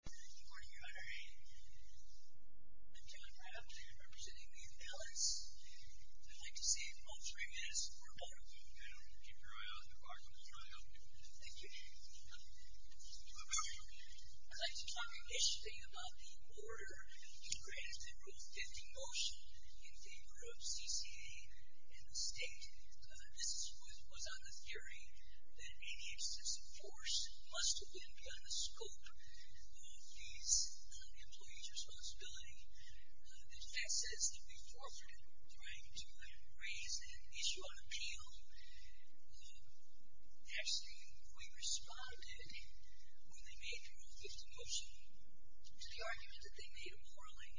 Good morning, Honorary. I'm John Pratt, representing New Balance. I'd like to say that all three of you have scored well. Keep your eye on the bar, don't try to open it. Thank you. I'd like to talk initially about the border. You granted the Rule 50 motion in favor of CCA and the state. This was on the theory that any excessive force must have been put on the scope of these employees' responsibility. This act says to be forfeited. We're trying to raise an issue on appeal. Actually, we responded when they made the Rule 50 motion. The argument that they made morally,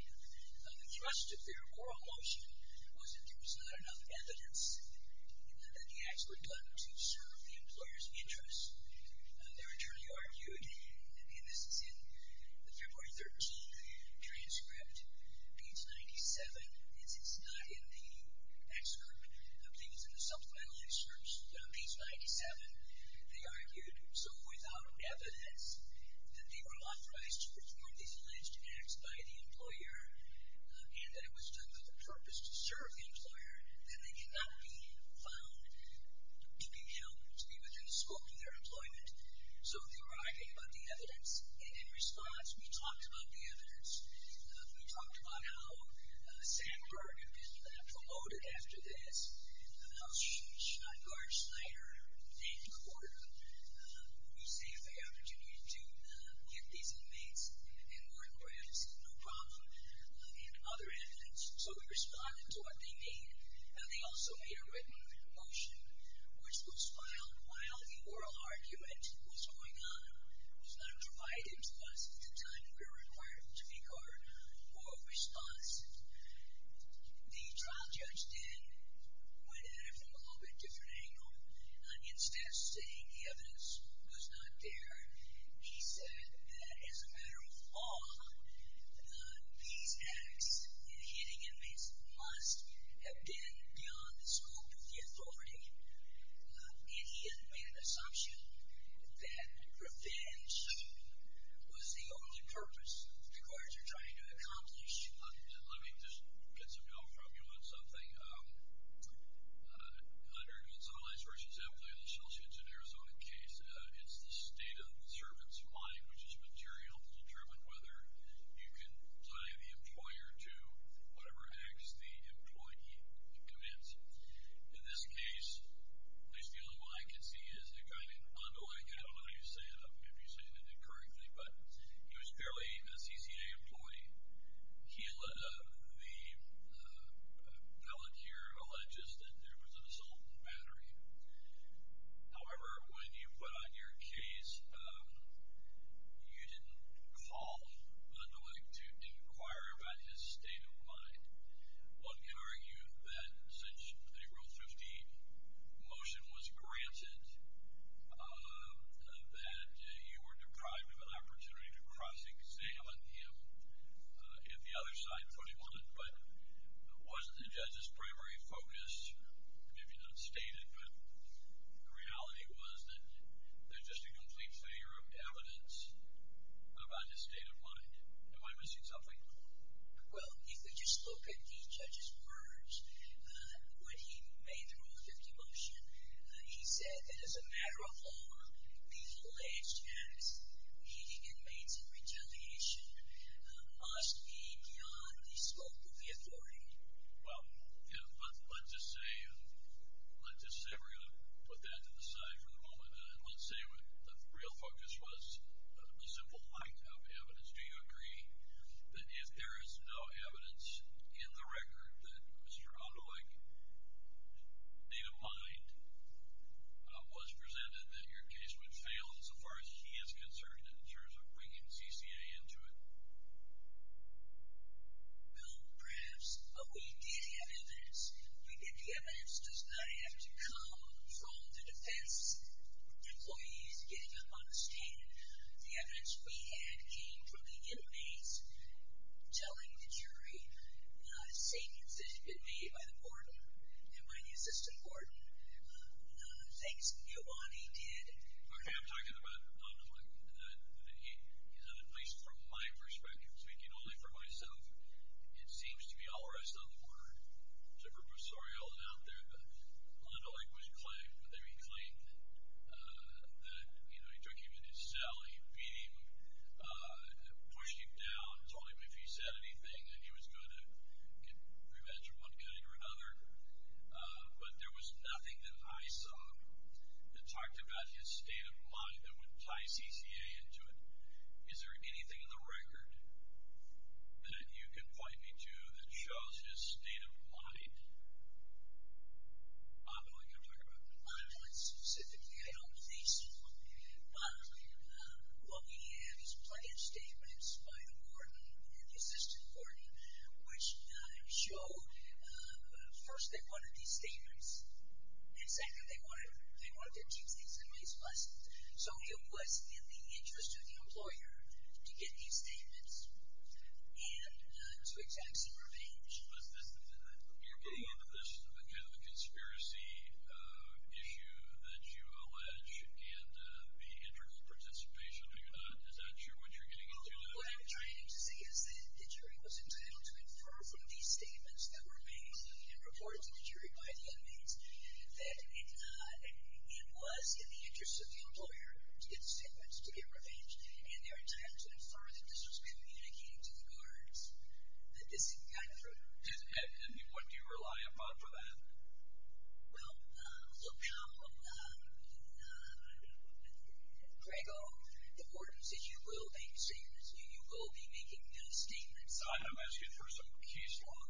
the thrust of their oral motion, was that there was not enough evidence that the acts were done to serve the employer's interests. Their attorney argued, and this is in the February 13th transcript, page 97. It's not in the excerpt of things in the supplemental excerpts, but on page 97, they argued, so without evidence that they were authorized to perform these alleged acts by the employer and that it was done with the purpose to serve the employer, then they cannot be found to be within scope of their employment. So they were arguing about the evidence, and in response, we talked about the evidence. We talked about how Sandberg had been promoted after this, how Schneidengard, Schneider, and Korter received the opportunity to get these inmates and work for MSA, no problem, and other evidence. So we responded to what they made. Now, they also made a written motion, which was filed while the oral argument was going on. It was not undervited, but at the time, we were required to make our oral response. The trial judge then went at it from a little bit different angle. Instead of saying the evidence was not there, he said that as a matter of law, these acts in hitting inmates must have been beyond the scope of the authority, and he had made an assumption that revenge was the only purpose that the courts were trying to accomplish. Let me just get some help from you on something. Under Gonzalez v. Employee of the Chelsea and Arizona case, it's the state of the servant's mind which is material to help determine whether you can tie the employer to whatever acts the employee commits. In this case, at least the only one I could see is a guy named Ando. I don't know what you say if you say it incorrectly, but he was clearly a CCA employee. He let the valetier alleges that there was an assault and battery. However, when you put on your case, you didn't call the valet to inquire about his state of mind. One can argue that since the April 15 motion was granted, that you were deprived of an opportunity to cross-examine him if the other side put him on it, but wasn't the judge's primary focus, if you don't state it, but the reality was that there's just a complete failure of evidence about his state of mind. Am I missing something? Well, if you just look at the judge's words when he made the rule 50 motion, he said that as a matter of law, these alleged acts, seeking and maintaining retaliation, must be beyond the scope of the authority. Well, yeah, but let's just say we're going to put that to the side for the moment, and let's say the real focus was a simple lack of evidence. Do you agree that if there is no evidence in the record that Mr. Ando, like, state of mind, was presented that your case would fail as far as he is concerned in terms of bringing CCA into it? Well, perhaps, but we did have evidence. We did. The evidence does not have to come from the defense employees getting up on the stand. The evidence we had came from the inmates telling the jury, not a statement that had been made by the court and by the assistant court. No, no, no, thanks. Yovani did. Okay, I'm talking about Ando. He, at least from my perspective, speaking only for myself, it seems to be all the rest on the board. It's a purpose, sorry, all the doubt there, but Ando, like, was claimed, but there he claimed that, you know, he took him into his cell, he beat him, he pushed him down, told him if he said anything that he was going to get revenge of one kind or another. But there was nothing that I saw that talked about his state of mind that would tie CCA into it. Is there anything in the record that you can point me to that shows his state of mind? Bob, I want you to talk about that. I don't think so. Bob, what we have is plenty of statements by the court and the assistant court, which show, first, they wanted these statements, and second, they wanted their chiefs, inmates, and lawyers. So it was in the interest of the employer to get these statements and to exact some revenge. You're bringing up this kind of a conspiracy issue that you allege, and the integral participation, are you not? Is that what you're getting into? What I'm trying to say is that the jury was entitled to infer from these statements that were made and reported to the jury by the inmates that it was in the interest of the employer to get the statements, to get revenge, and they were entitled to infer that this was communicating to the guards that this had gotten through. And what do you rely upon for that? Well, look, Grego, the court has said you will be making new statements. I'm going to ask you for some case law.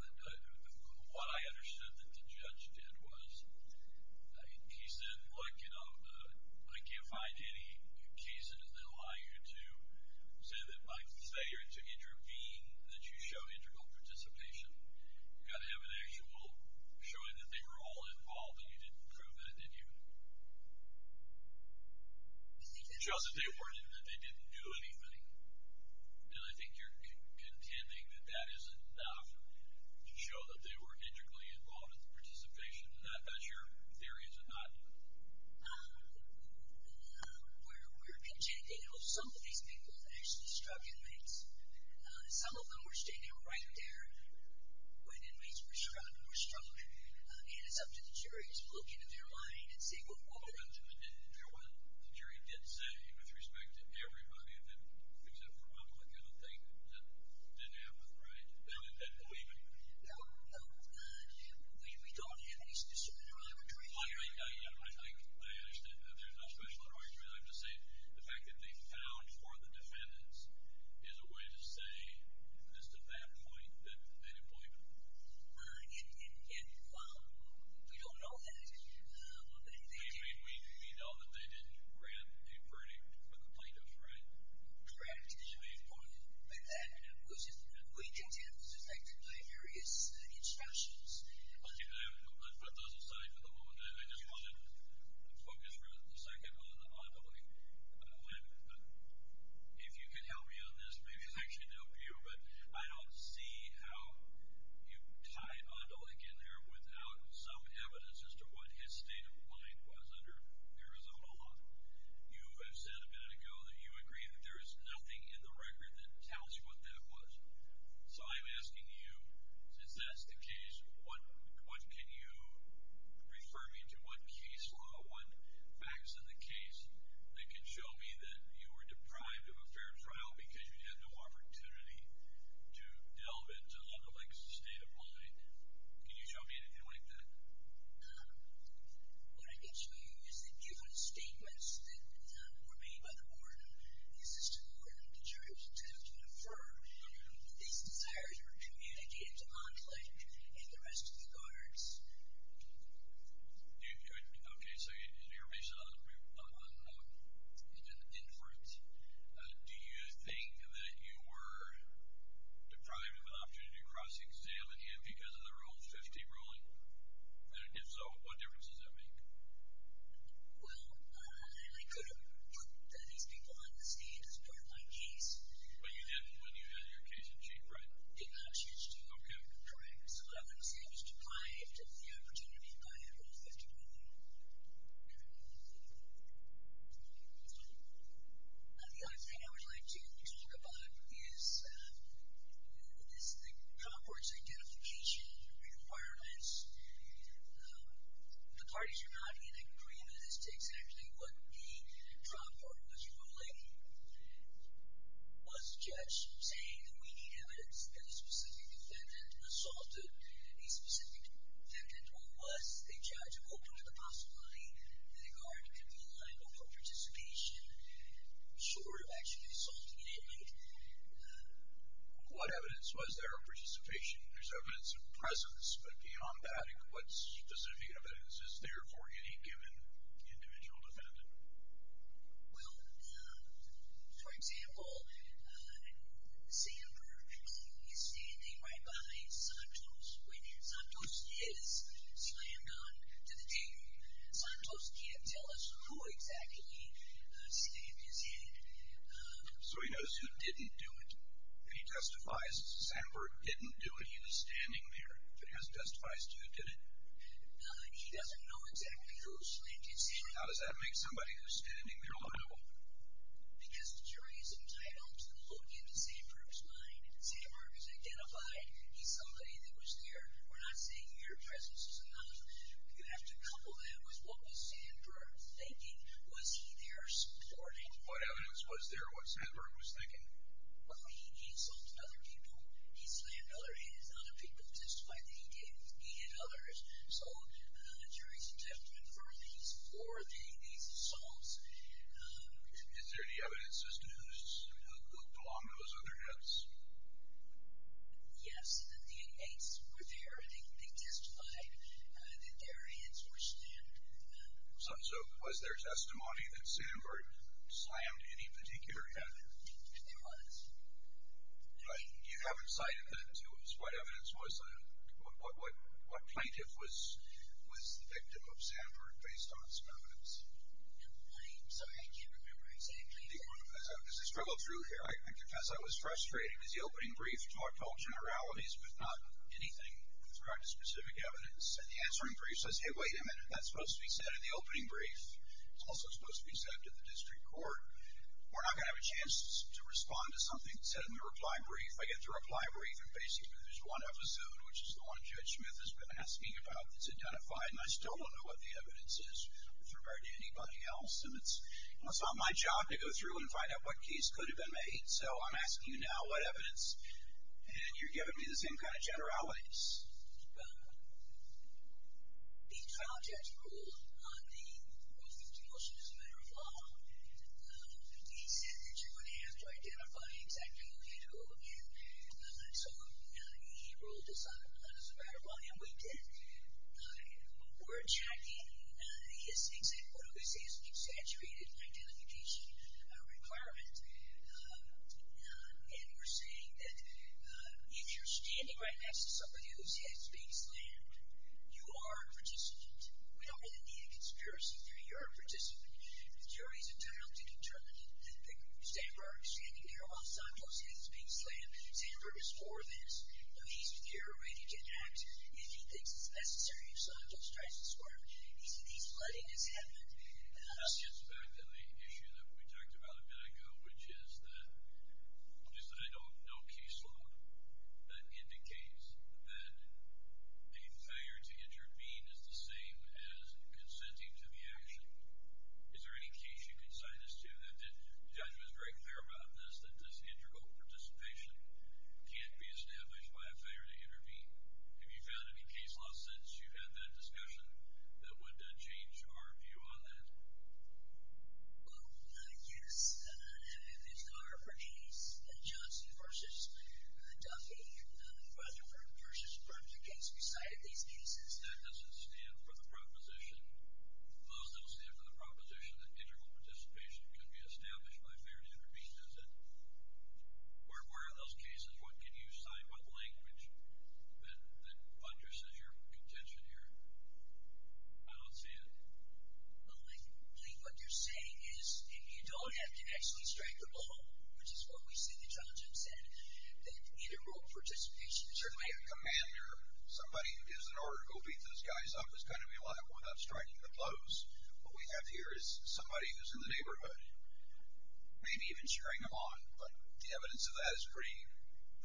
What I understood that the judge did was he said, look, I can't find any cases that allow you to say that by failure to intervene that you show integral participation. You've got to have an actual showing that they were all involved, and you didn't prove that, did you? It shows that they didn't do anything, and I think you're contending that that is enough to show that they were integrally involved in the participation. And I'm not sure your theory is an ideal. We're contending that some of these people are actually struggling inmates. Some of them are standing right there when inmates were struggling or struggling, and it's up to the jury to look into their mind and see what they're doing. Well, Judge, and you're right. The jury did say, with respect to everybody of them, except for one particular thing that didn't happen, right? They didn't believe it. No, no. We don't have any specific argument right now. I think there's a special argument. I have to say the fact that they found for the defendants is a way to say just at that point that they didn't believe it. We don't know that. We know that they didn't grant a verdict with the plaintiffs, right? Correct. We didn't point at that. It was just a way to attempt to affect it by various instructions. Let's put those aside for the moment. I just want to focus for a second on Adolick. If you can help me on this, maybe I should help you, but I don't see how you tied Adolick in there without some evidence as to what his state of mind was under Arizona law. You have said a minute ago that you agree that there is nothing in the record that tells you what that was. So I'm asking you, since that's the case, what can you refer me to? What case law, what facts in the case that can show me that you were deprived of a fair trial because you had no opportunity to delve into Adolick's state of mind? Can you show me anything like that? What I can show you is that given statements that were made by the court, it's just important to try to affirm that these desires were communicated to Adolick and the rest of the guards. Okay, so you're based on inference. Do you think that you were deprived of an opportunity to cross-examine him because of the Rule 50 ruling? If so, what difference does that make? Well, I could have put these people on the stage as part of my case. But you didn't when you had your case in shape, right? I did not choose to overdo it. Correct. So what I'm going to say is that you were deprived of the opportunity by the Rule 50 ruling. Okay. What's next? The other thing I would like to talk about is the Comfort's identification requirements. The parties are not in agreement as to exactly what the Comfort was ruling. Was the judge saying that we need evidence that a specific defendant assaulted a specific defendant, or was the judge open to the possibility that a guard could be liable for participation, short of actually assaulting an inmate? What evidence was there of participation? There's evidence of presence. But beyond that, what specific evidence is there for any given individual defendant? Well, for example, Sandberg is standing right behind Santos. When Santos is slammed onto the table, Santos can't tell us who exactly is standing. So he knows who didn't do it. He testifies that Sandberg didn't do it. He was standing there. He hasn't testified to it, did he? No, he doesn't know exactly who slammed him. How does that make somebody who's standing there liable? Because the jury is entitled to look into Sandberg's mind. Sandberg is identified. He's somebody that was there. We're not saying your presence is enough. You have to couple that with what was Sandberg thinking. Was he there supporting? What evidence was there of what Sandberg was thinking? Well, he assaulted other people. He slammed other inmates. Other people testified that he did. He and others. So the jury is entitled to infer these for the assaults. Is there any evidence as to who looked along those other heads? Yes, that the inmates were there. They testified that their heads were slammed. So was there testimony that Sandberg slammed any particular head? There was. You haven't cited that to us. What evidence was there? What plaintiff was the victim of Sandberg based on some evidence? I'm sorry, I can't remember. I'm saying plaintiff. As I struggle through here, I confess I was frustrated. It was the opening brief to all generalities, but not anything with regard to specific evidence. And the answering brief says, hey, wait a minute, that's supposed to be said in the opening brief. It's also supposed to be said to the district court. We're not going to have a chance to respond to something said in the reply brief. I get the reply brief, and basically there's one episode, which is the one Judge Smith has been asking about that's identified, and I still don't know what the evidence is with regard to anybody else. And it's not my job to go through and find out what case could have been made. So I'm asking you now what evidence. And you're giving me the same kind of generalities. The trial judge ruled on the motion as a matter of law. He said that you're going to have to identify exactly who you do. And so he ruled it's not a matter of law, and we did. We're checking his exaggerated identification requirement. And we're saying that if you're standing right next to somebody whose head is being slammed, you are a participant. We don't really need a conspiracy theory. You're a participant. The jury's entitled to determine that the stander is standing there while someone's head is being slammed. The stander is for this. Now, he's reiterating an act. If he thinks it's necessary, he's not going to try to disquiet him. He's letting this happen. That's just back to the issue that we talked about a minute ago, which is that, just that I don't know case law that indicates that a failure to intervene is the same as consenting to the action. Is there any case you can cite us to that the judge was very clear about in this that this integral participation can't be established by a failure to intervene? Have you found any case law since you've had that discussion that would change our view on that? Well, yes, there are parties, Johnson v. Duffy and Rutherford v. Berger case. We cited these cases. That doesn't stand for the proposition. Those that will stand for the proposition that integral participation can be established by failure to intervene, does it? Where are those cases? What can you cite? What language then undersays your contention here? I don't see it. Well, I think what you're saying is you don't have to actually strike a blow, which is what we see that Johnson said, that integral participation is certainly a commander. Somebody who gives an order to go beat those guys up is going to be allowed without striking the blows. What we have here is somebody who's in the neighborhood, maybe even cheering them on. But the evidence of that is pretty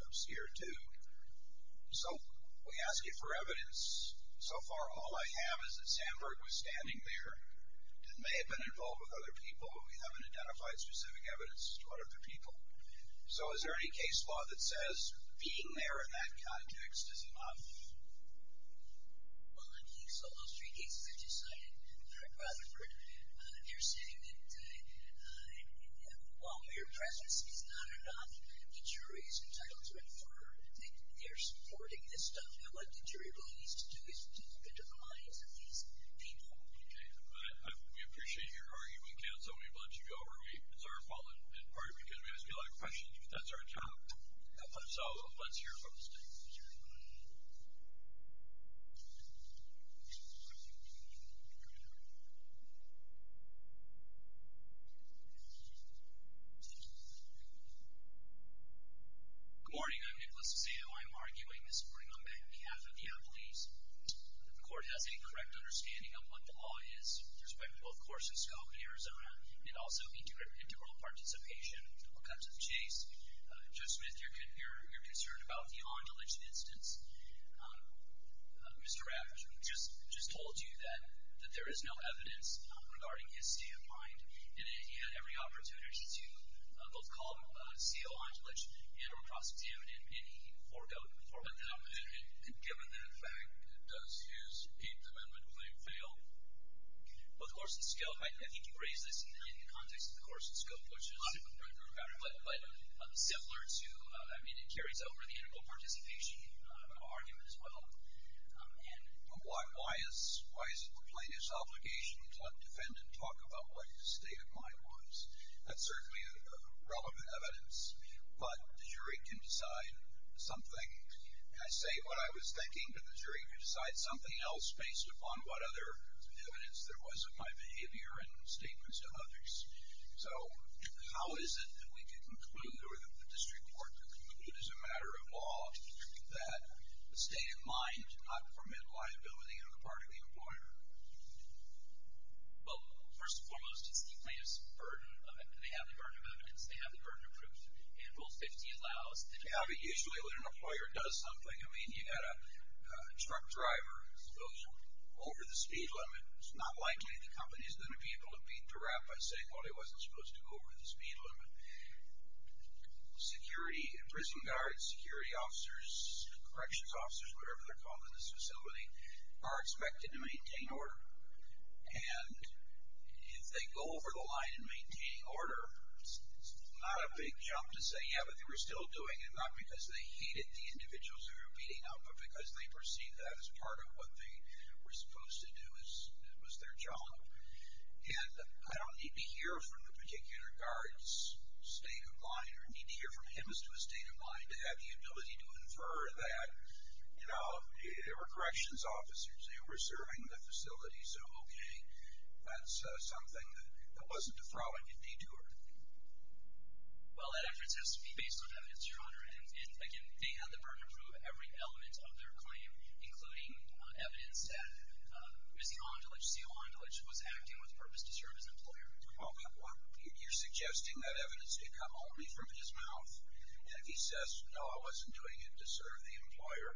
obscure, too. So we ask you for evidence. So far, all I have is that Sandberg was standing there and may have been involved with other people, but we haven't identified specific evidence. What are the people? So is there any case law that says being there in that context is enough? Well, I think so. Those three cases that you cited, correct, Rutherford, they're saying that while your presence is not enough, the jury's entitlement for their supporting this stuff, and I'd like the jury abilities to do this, to identify some of these people. Okay. We appreciate your argument, Ken, so we've let you go. It's our fault, in part, because we ask you a lot of questions. That's our job. So let's hear from the jury. Good morning. I'm Nicholas Zito. I'm arguing this morning on behalf of the employees. If the court has any correct understanding of what the law is, with respect to both course and scope in Arizona, and also integral participation in all kinds of case, Judge Smith, you're concerned about the Ondulich instance. Mr. Rafferty just told you that there is no evidence regarding his standpoint, and that he had every opportunity to both call CO Ondulich and or prosecute him in any forgotten form. And given that fact, does his eighth amendment claim fail? Both course and scope. I think you raised this in the context of the course and scope, which is similar to, I mean, it carries over the integral participation argument as well. Why is it the plaintiff's obligation to let the defendant talk about what his state of mind was? That's certainly relevant evidence. But the jury can decide something. I say what I was thinking, but the jury can decide something else based upon what other evidence there was of my behavior and statements to others. So how is it that we can conclude, or the district court can conclude as a matter of law, that the state of mind did not permit liability on the part of the employer? Well, first and foremost, it's the plaintiff's burden. And they have the burden of evidence. They have the burden of proof. And Rule 50 allows that. Yeah, but usually when an employer does something, I mean, you've got a truck driver who goes over the speed limit, it's not likely the company is going to be able to beat the rap by saying, well, he wasn't supposed to go over the speed limit. Security, prison guards, security officers, corrections officers, whatever they're called in this facility, are expected to maintain order. And if they go over the line in maintaining order, it's not a big jump to say, yeah, but they were still doing it, not because they hated the individuals who were beating up, but because they perceived that as part of what they were supposed to do as their job. And I don't need to hear from the particular guard's state of mind or need to hear from him as to his state of mind to have the ability to infer that. You know, they were corrections officers. They were serving the facility. So, okay, that's something that wasn't a throw in if they do it. Well, that effort has to be based on evidence, Your Honor. And, again, they had the burden of proof of every element of their claim, including evidence that Ms. Andulich, CEO Andulich, was acting with purpose to serve as an employer. Well, you're suggesting that evidence did come only from his mouth, and if he says, no, I wasn't doing it to serve the employer,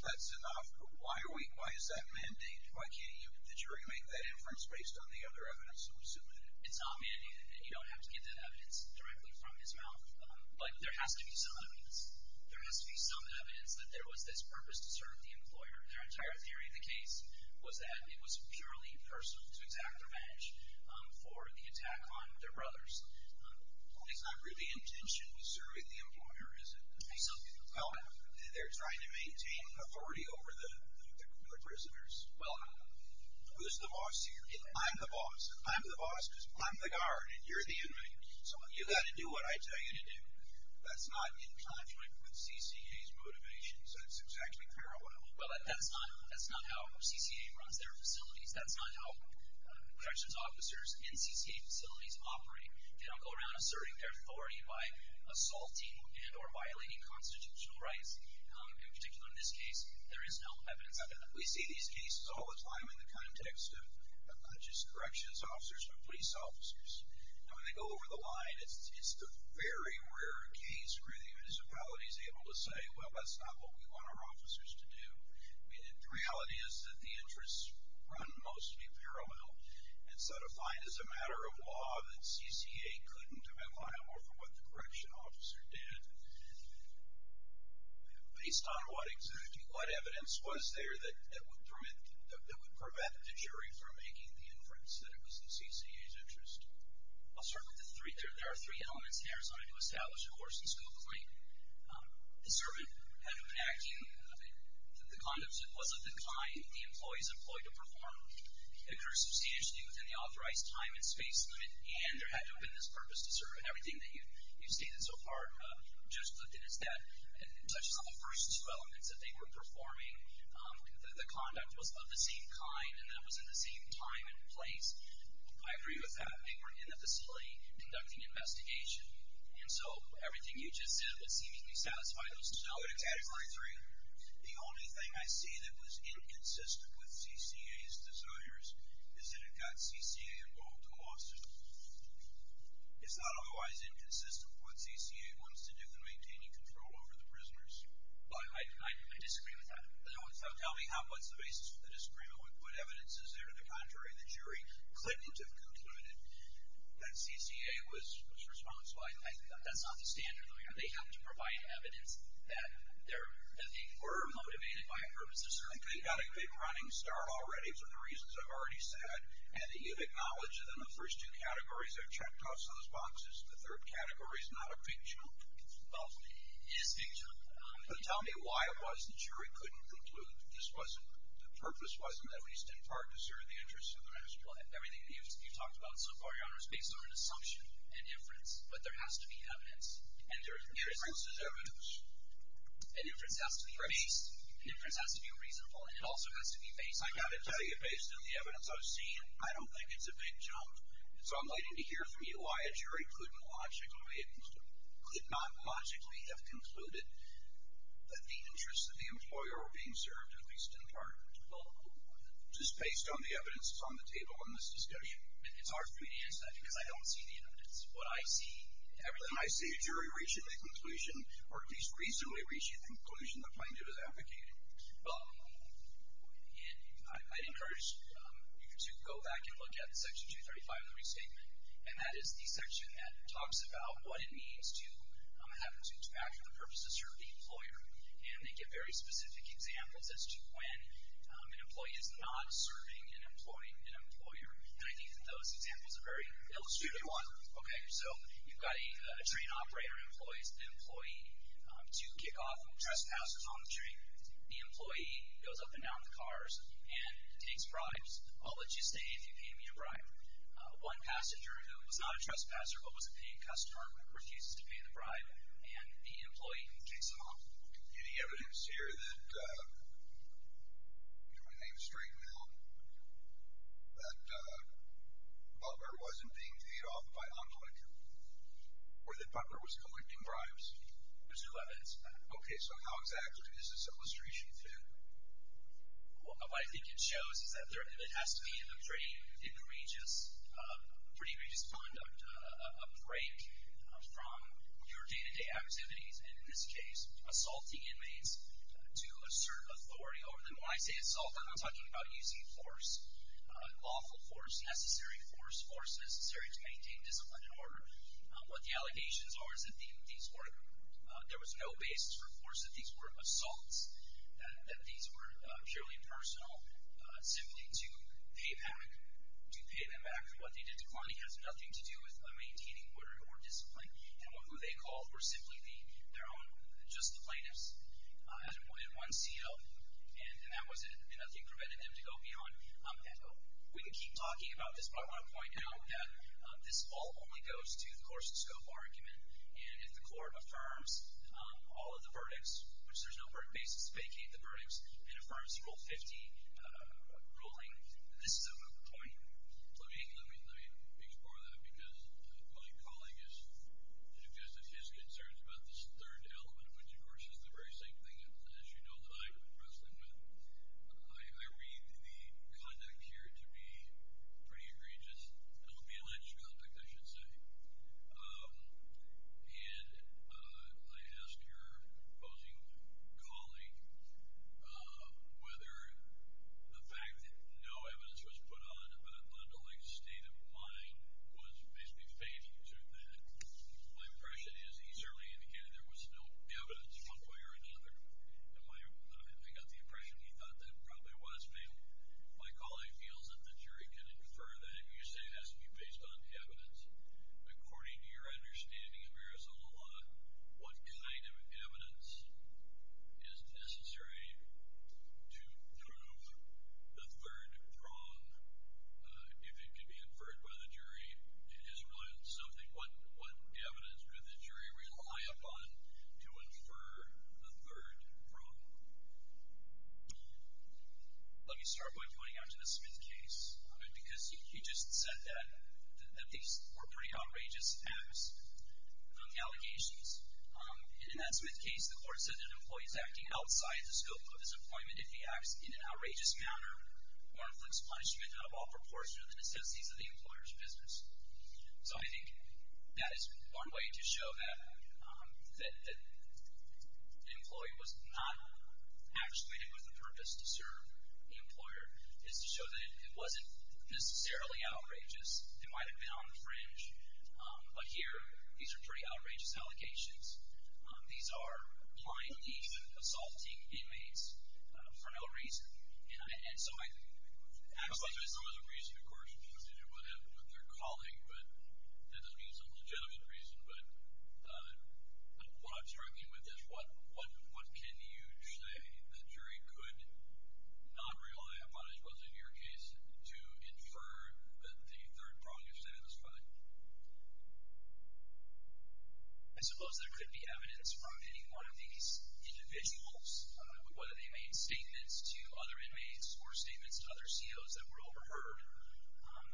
that's enough. Why is that mandated? Why can't you make that inference based on the other evidence that was submitted? It's not mandated. You don't have to get that evidence directly from his mouth. But there has to be some evidence. There has to be some evidence that there was this purpose to serve the employer. Their entire theory of the case was that it was purely personal, to exact revenge for the attack on their brothers. It's not really intention to serve the employer, is it? Well, they're trying to maintain authority over the prisoners. Well, who's the boss here? I'm the boss. I'm the boss because I'm the guard, and you're the inmate. So you've got to do what I tell you to do. That's not in conflict with CCA's motivations. That's exactly correct. Well, that's not how CCA runs their facilities. That's not how corrections officers in CCA facilities operate. They don't go around asserting their authority by assaulting and or violating constitutional rights. In particular in this case, there is no evidence of that. We see these cases all the time in the context of just corrections officers or police officers. And when they go over the line, it's the very rare case where the municipality is able to say, well, that's not what we want our officers to do. The reality is that the interests run mostly paramount, and so to find as a matter of law that CCA couldn't apply more for what the correction officer did, based on what evidence was there that would prevent the jury from making the inference that it was in CCA's interest. There are three elements here. So I need to establish, of course, and still complain. The servant had to enact the conduct that was of the kind the employees employed to perform inter-association duty within the authorized time and space limit, and there had to have been this purpose to serve. Everything that you've stated so far just looked at as that, and it touches on the first two elements that they were performing. The conduct was of the same kind, and that was in the same time and place. I agree with that. They were in the facility conducting investigation. And so everything you just said would seemingly satisfy those two elements. I agree. The only thing I see that was inconsistent with CCA's desires is that it got CCA involved in the law system. It's not otherwise inconsistent with what CCA wants to do than maintaining control over the prisoners. I disagree with that. Tell me what's the basis for the disagreement. What evidence is there to the contrary that jury claimed to have concluded that that's not the standard? They have to provide evidence that they were motivated by a purpose. You've got a big running start already for the reasons I've already said, and you've acknowledged it in the first two categories. I've checked off some of those boxes. The third category is not a big jump. Well, it is a big jump. But tell me why it wasn't sure it couldn't conclude. The purpose wasn't at least in part to serve the interests of the master plan. Everything you've talked about so far, Your Honor, is based on an assumption, an inference. But there has to be evidence. An inference is evidence. An inference has to be based. An inference has to be reasonable, and it also has to be based. I've got to tell you, based on the evidence I've seen, I don't think it's a big jump. So I'm waiting to hear from you why a jury could not logically have concluded that the interests of the employer were being served at least in part, just based on the evidence that's on the table in this discussion. It's hard for me to answer that because I don't see the evidence. What I see is everything. I see a jury reaching a conclusion, or at least reasonably reaching a conclusion that finds it as advocated. Well, I'd encourage you to go back and look at Section 235 of the Restatement, and that is the section that talks about what it means to have to act for the purpose of serving the employer. And they give very specific examples as to when an employee is not serving an employee, an employer. And I think that those examples are very illustrative. Okay, so you've got a train operator who employs the employee to kick off trespassers on the train. The employee goes up and down the cars and takes bribes. I'll let you stay if you pay me a bribe. One passenger who was not a trespasser but was a paying customer refuses to pay the bribe, and the employee kicks him off. Any evidence here that, do you want to name a straight male, that Butler wasn't being paid off by Honolulu, or that Butler was collecting bribes? There's two evidence. Okay, so how exact is this illustration to? Well, I think it shows that it has to be a pretty egregious conduct, a break from your day-to-day activities, and in this case assaulting inmates to assert authority over them. When I say assault, I'm not talking about using force, lawful force, necessary force, force necessary to maintain discipline and order. What the allegations are is that there was no basis for force, that these were assaults, that these were purely personal, simply to pay them back. To pay them back for what they did to money has nothing to do with maintaining order or discipline. And who they called were simply their own just plaintiffs, and one CO, and that was it. Nothing prevented them to go beyond that. We could keep talking about this, but I want to point out that this all only goes to the course and scope argument, and if the court affirms all of the verdicts, which there's no verdict basis to vacate the verdicts, and affirms Rule 50 ruling, this is a point. Let me explore that, because my colleague has suggested his concerns about this third element, which, of course, is the very same thing, as you know, that I've been wrestling with. I read the conduct here to be pretty egregious. Illegalized conduct, I should say. And I asked your opposing colleague whether the fact that no evidence was put on a non-delict state of mind was basically fated to that. My impression is he certainly indicated there was no evidence one way or another. I got the impression he thought that probably was fatal. My colleague feels that the jury can infer that, if you say it has to be based on evidence, according to your understanding of Arizona law, what kind of evidence is necessary to prove the third wrong. If it can be inferred by the jury, is what evidence would the jury rely upon to infer the third wrong? Let me start by pointing out to the Smith case, because he just said that these were pretty outrageous acts. Allegations. And in that Smith case, the court said that employees acting outside the scope of his employment, if he acts in an outrageous manner, will inflict punishment out of all proportion to the necessities of the employer's business. So I think that is one way to show that the employee was not actually committed with the purpose to serve the employer, is to show that it wasn't necessarily outrageous. It might have been on the fringe. But here, these are pretty outrageous allegations. These are clientees assaulting inmates for no reason. And so I think the question is, of course, it has to do with their calling, but that doesn't mean it's a legitimate reason. But what I'm struggling with is, what can you say the jury could not rely upon, as was in your case, to infer that the third prong is satisfied? I suppose there could be evidence from any one of these individuals, whether they made statements to other inmates or statements to other COs that were overheard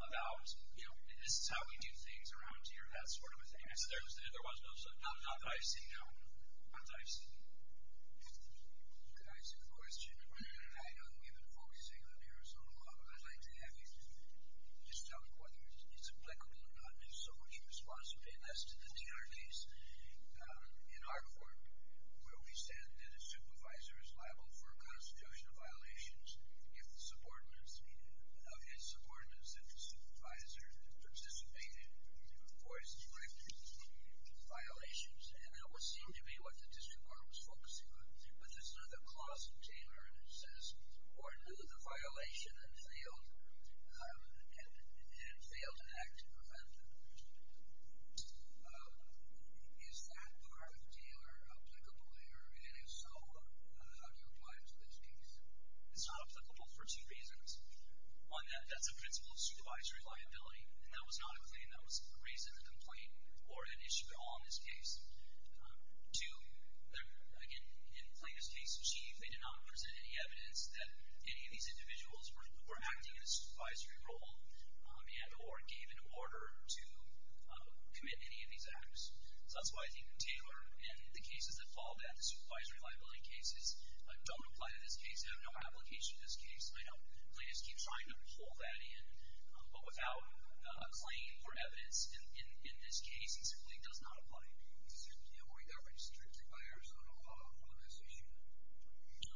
about, you know, this is how we do things around here, that sort of thing. There was no such thing. Not that I've seen, no. Not that I've seen. Could I ask a question? I know you've been focusing on the Arizona law, but I'd like to have you just tell me whether it's applicable or not, and if so, what's your response? You paid less to the DNR case. In our court, where we said that a supervisor is liable for a constitution of violations, if the subordinates of his subordinates, if the supervisor participated, or his directors, violations. And that would seem to be what the district court was focusing on. But there's another clause in Taylor that says, or knew the violation and failed an act to prevent it. Is that part of Taylor applicable? And if so, how do you reply to this case? It's not applicable for two reasons. One, that's a principle of supervisory liability, and that was not a claim. That was a reason to complain, or an issue at all in this case. Two, again, in Plaintiff's case, Chief, they did not present any evidence that any of these individuals were acting in a supervisory role, and or gave an order to commit any of these acts. So that's why I think Taylor, and the cases that followed that, the supervisory liability cases, don't apply to this case, have no application to this case. I know Plaintiffs keep trying to pull that in. But without a claim for evidence in this case, it simply does not apply. Were you ever restricted by Arizona law on this issue?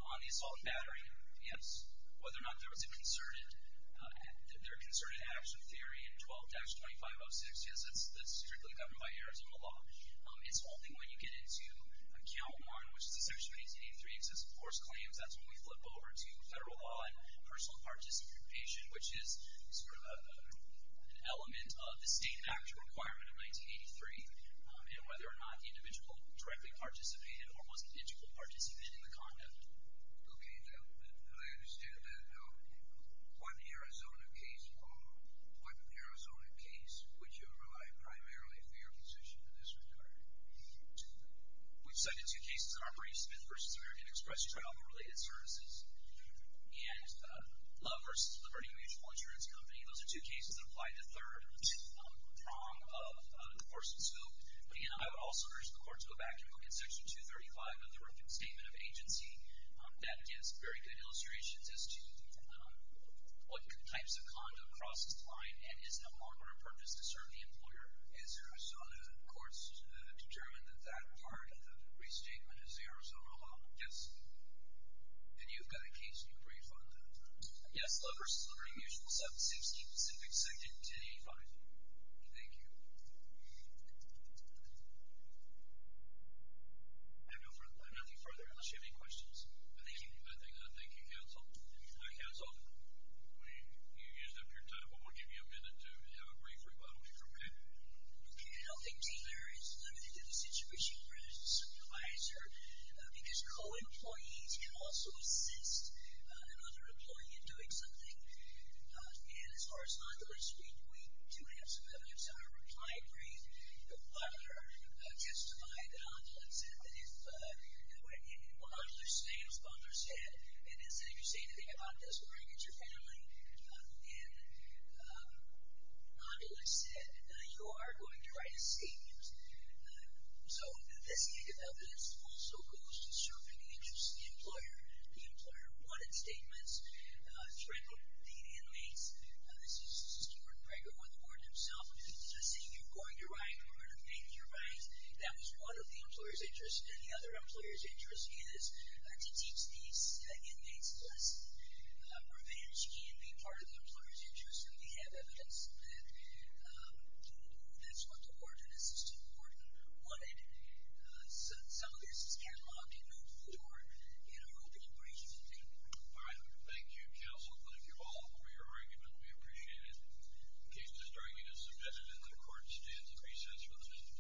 On the assault and battery, yes. Whether or not there was a concerted action theory in 12-2506, yes, that's strictly governed by Arizona law. It's only when you get into account one, which is section 183, excessive force claims, that's when we flip over to federal law and personal participation, which is sort of an element of the State Actual Requirement of 1983, and whether or not the individual directly participated or wasn't digitally participated in the conduct. Okay. Now, I understand that now. One Arizona case followed. One Arizona case, which I rely primarily for your position in this regard. We've cited two cases, Armory Smith v. American Express Travel-Related Services and Love v. Liberty Mutual Insurance Company. Those are two cases that apply to third prong of the course of scope. And I would also urge the Court to go back and look at section 235 of the Reference Statement of Agency. That gives very good illustrations as to what types of conduct crosses the line and is not more than a purpose to serve the employer. So other than the Court's determent that that part of the restatement is Arizona law? Yes. And you've got a case you've briefed on that? Yes. Love v. Liberty Mutual 760, specific section 285. Thank you. I have nothing further unless you have any questions. Thank you. Thank you, Counsel. Counsel, you used up your time, but we'll give you a minute to have a brief rebuttal if you're ready. Okay. I don't think Taylor is limited to the situation, because co-employees can also assist another employee in doing something. And as far as Modular Street, we do have some evidence. I replied briefly. The father testified that Modular said that if Modular stands, Modular said, and instead of you saying to me, I've got this mortgage or family, and Modular said, you are going to write a statement. So this piece of evidence also goes to serving the interests of the employer. The employer wanted statements. So I quoted the inmates. This is Stewart Craig on the board himself. He said, you're going to write, you're going to make your right. That was one of the employer's interests. The other employer's interest is to teach these inmates a lesson. Revenge can be part of the employer's interest, and we have evidence that that's what the board wanted. Some of this is catalogued in the floor in our opening brief. All right. Thank you, counsel. Thank you all for your argument. We appreciate it. The case is dragging us a bit. And the court stands at recess for the minute.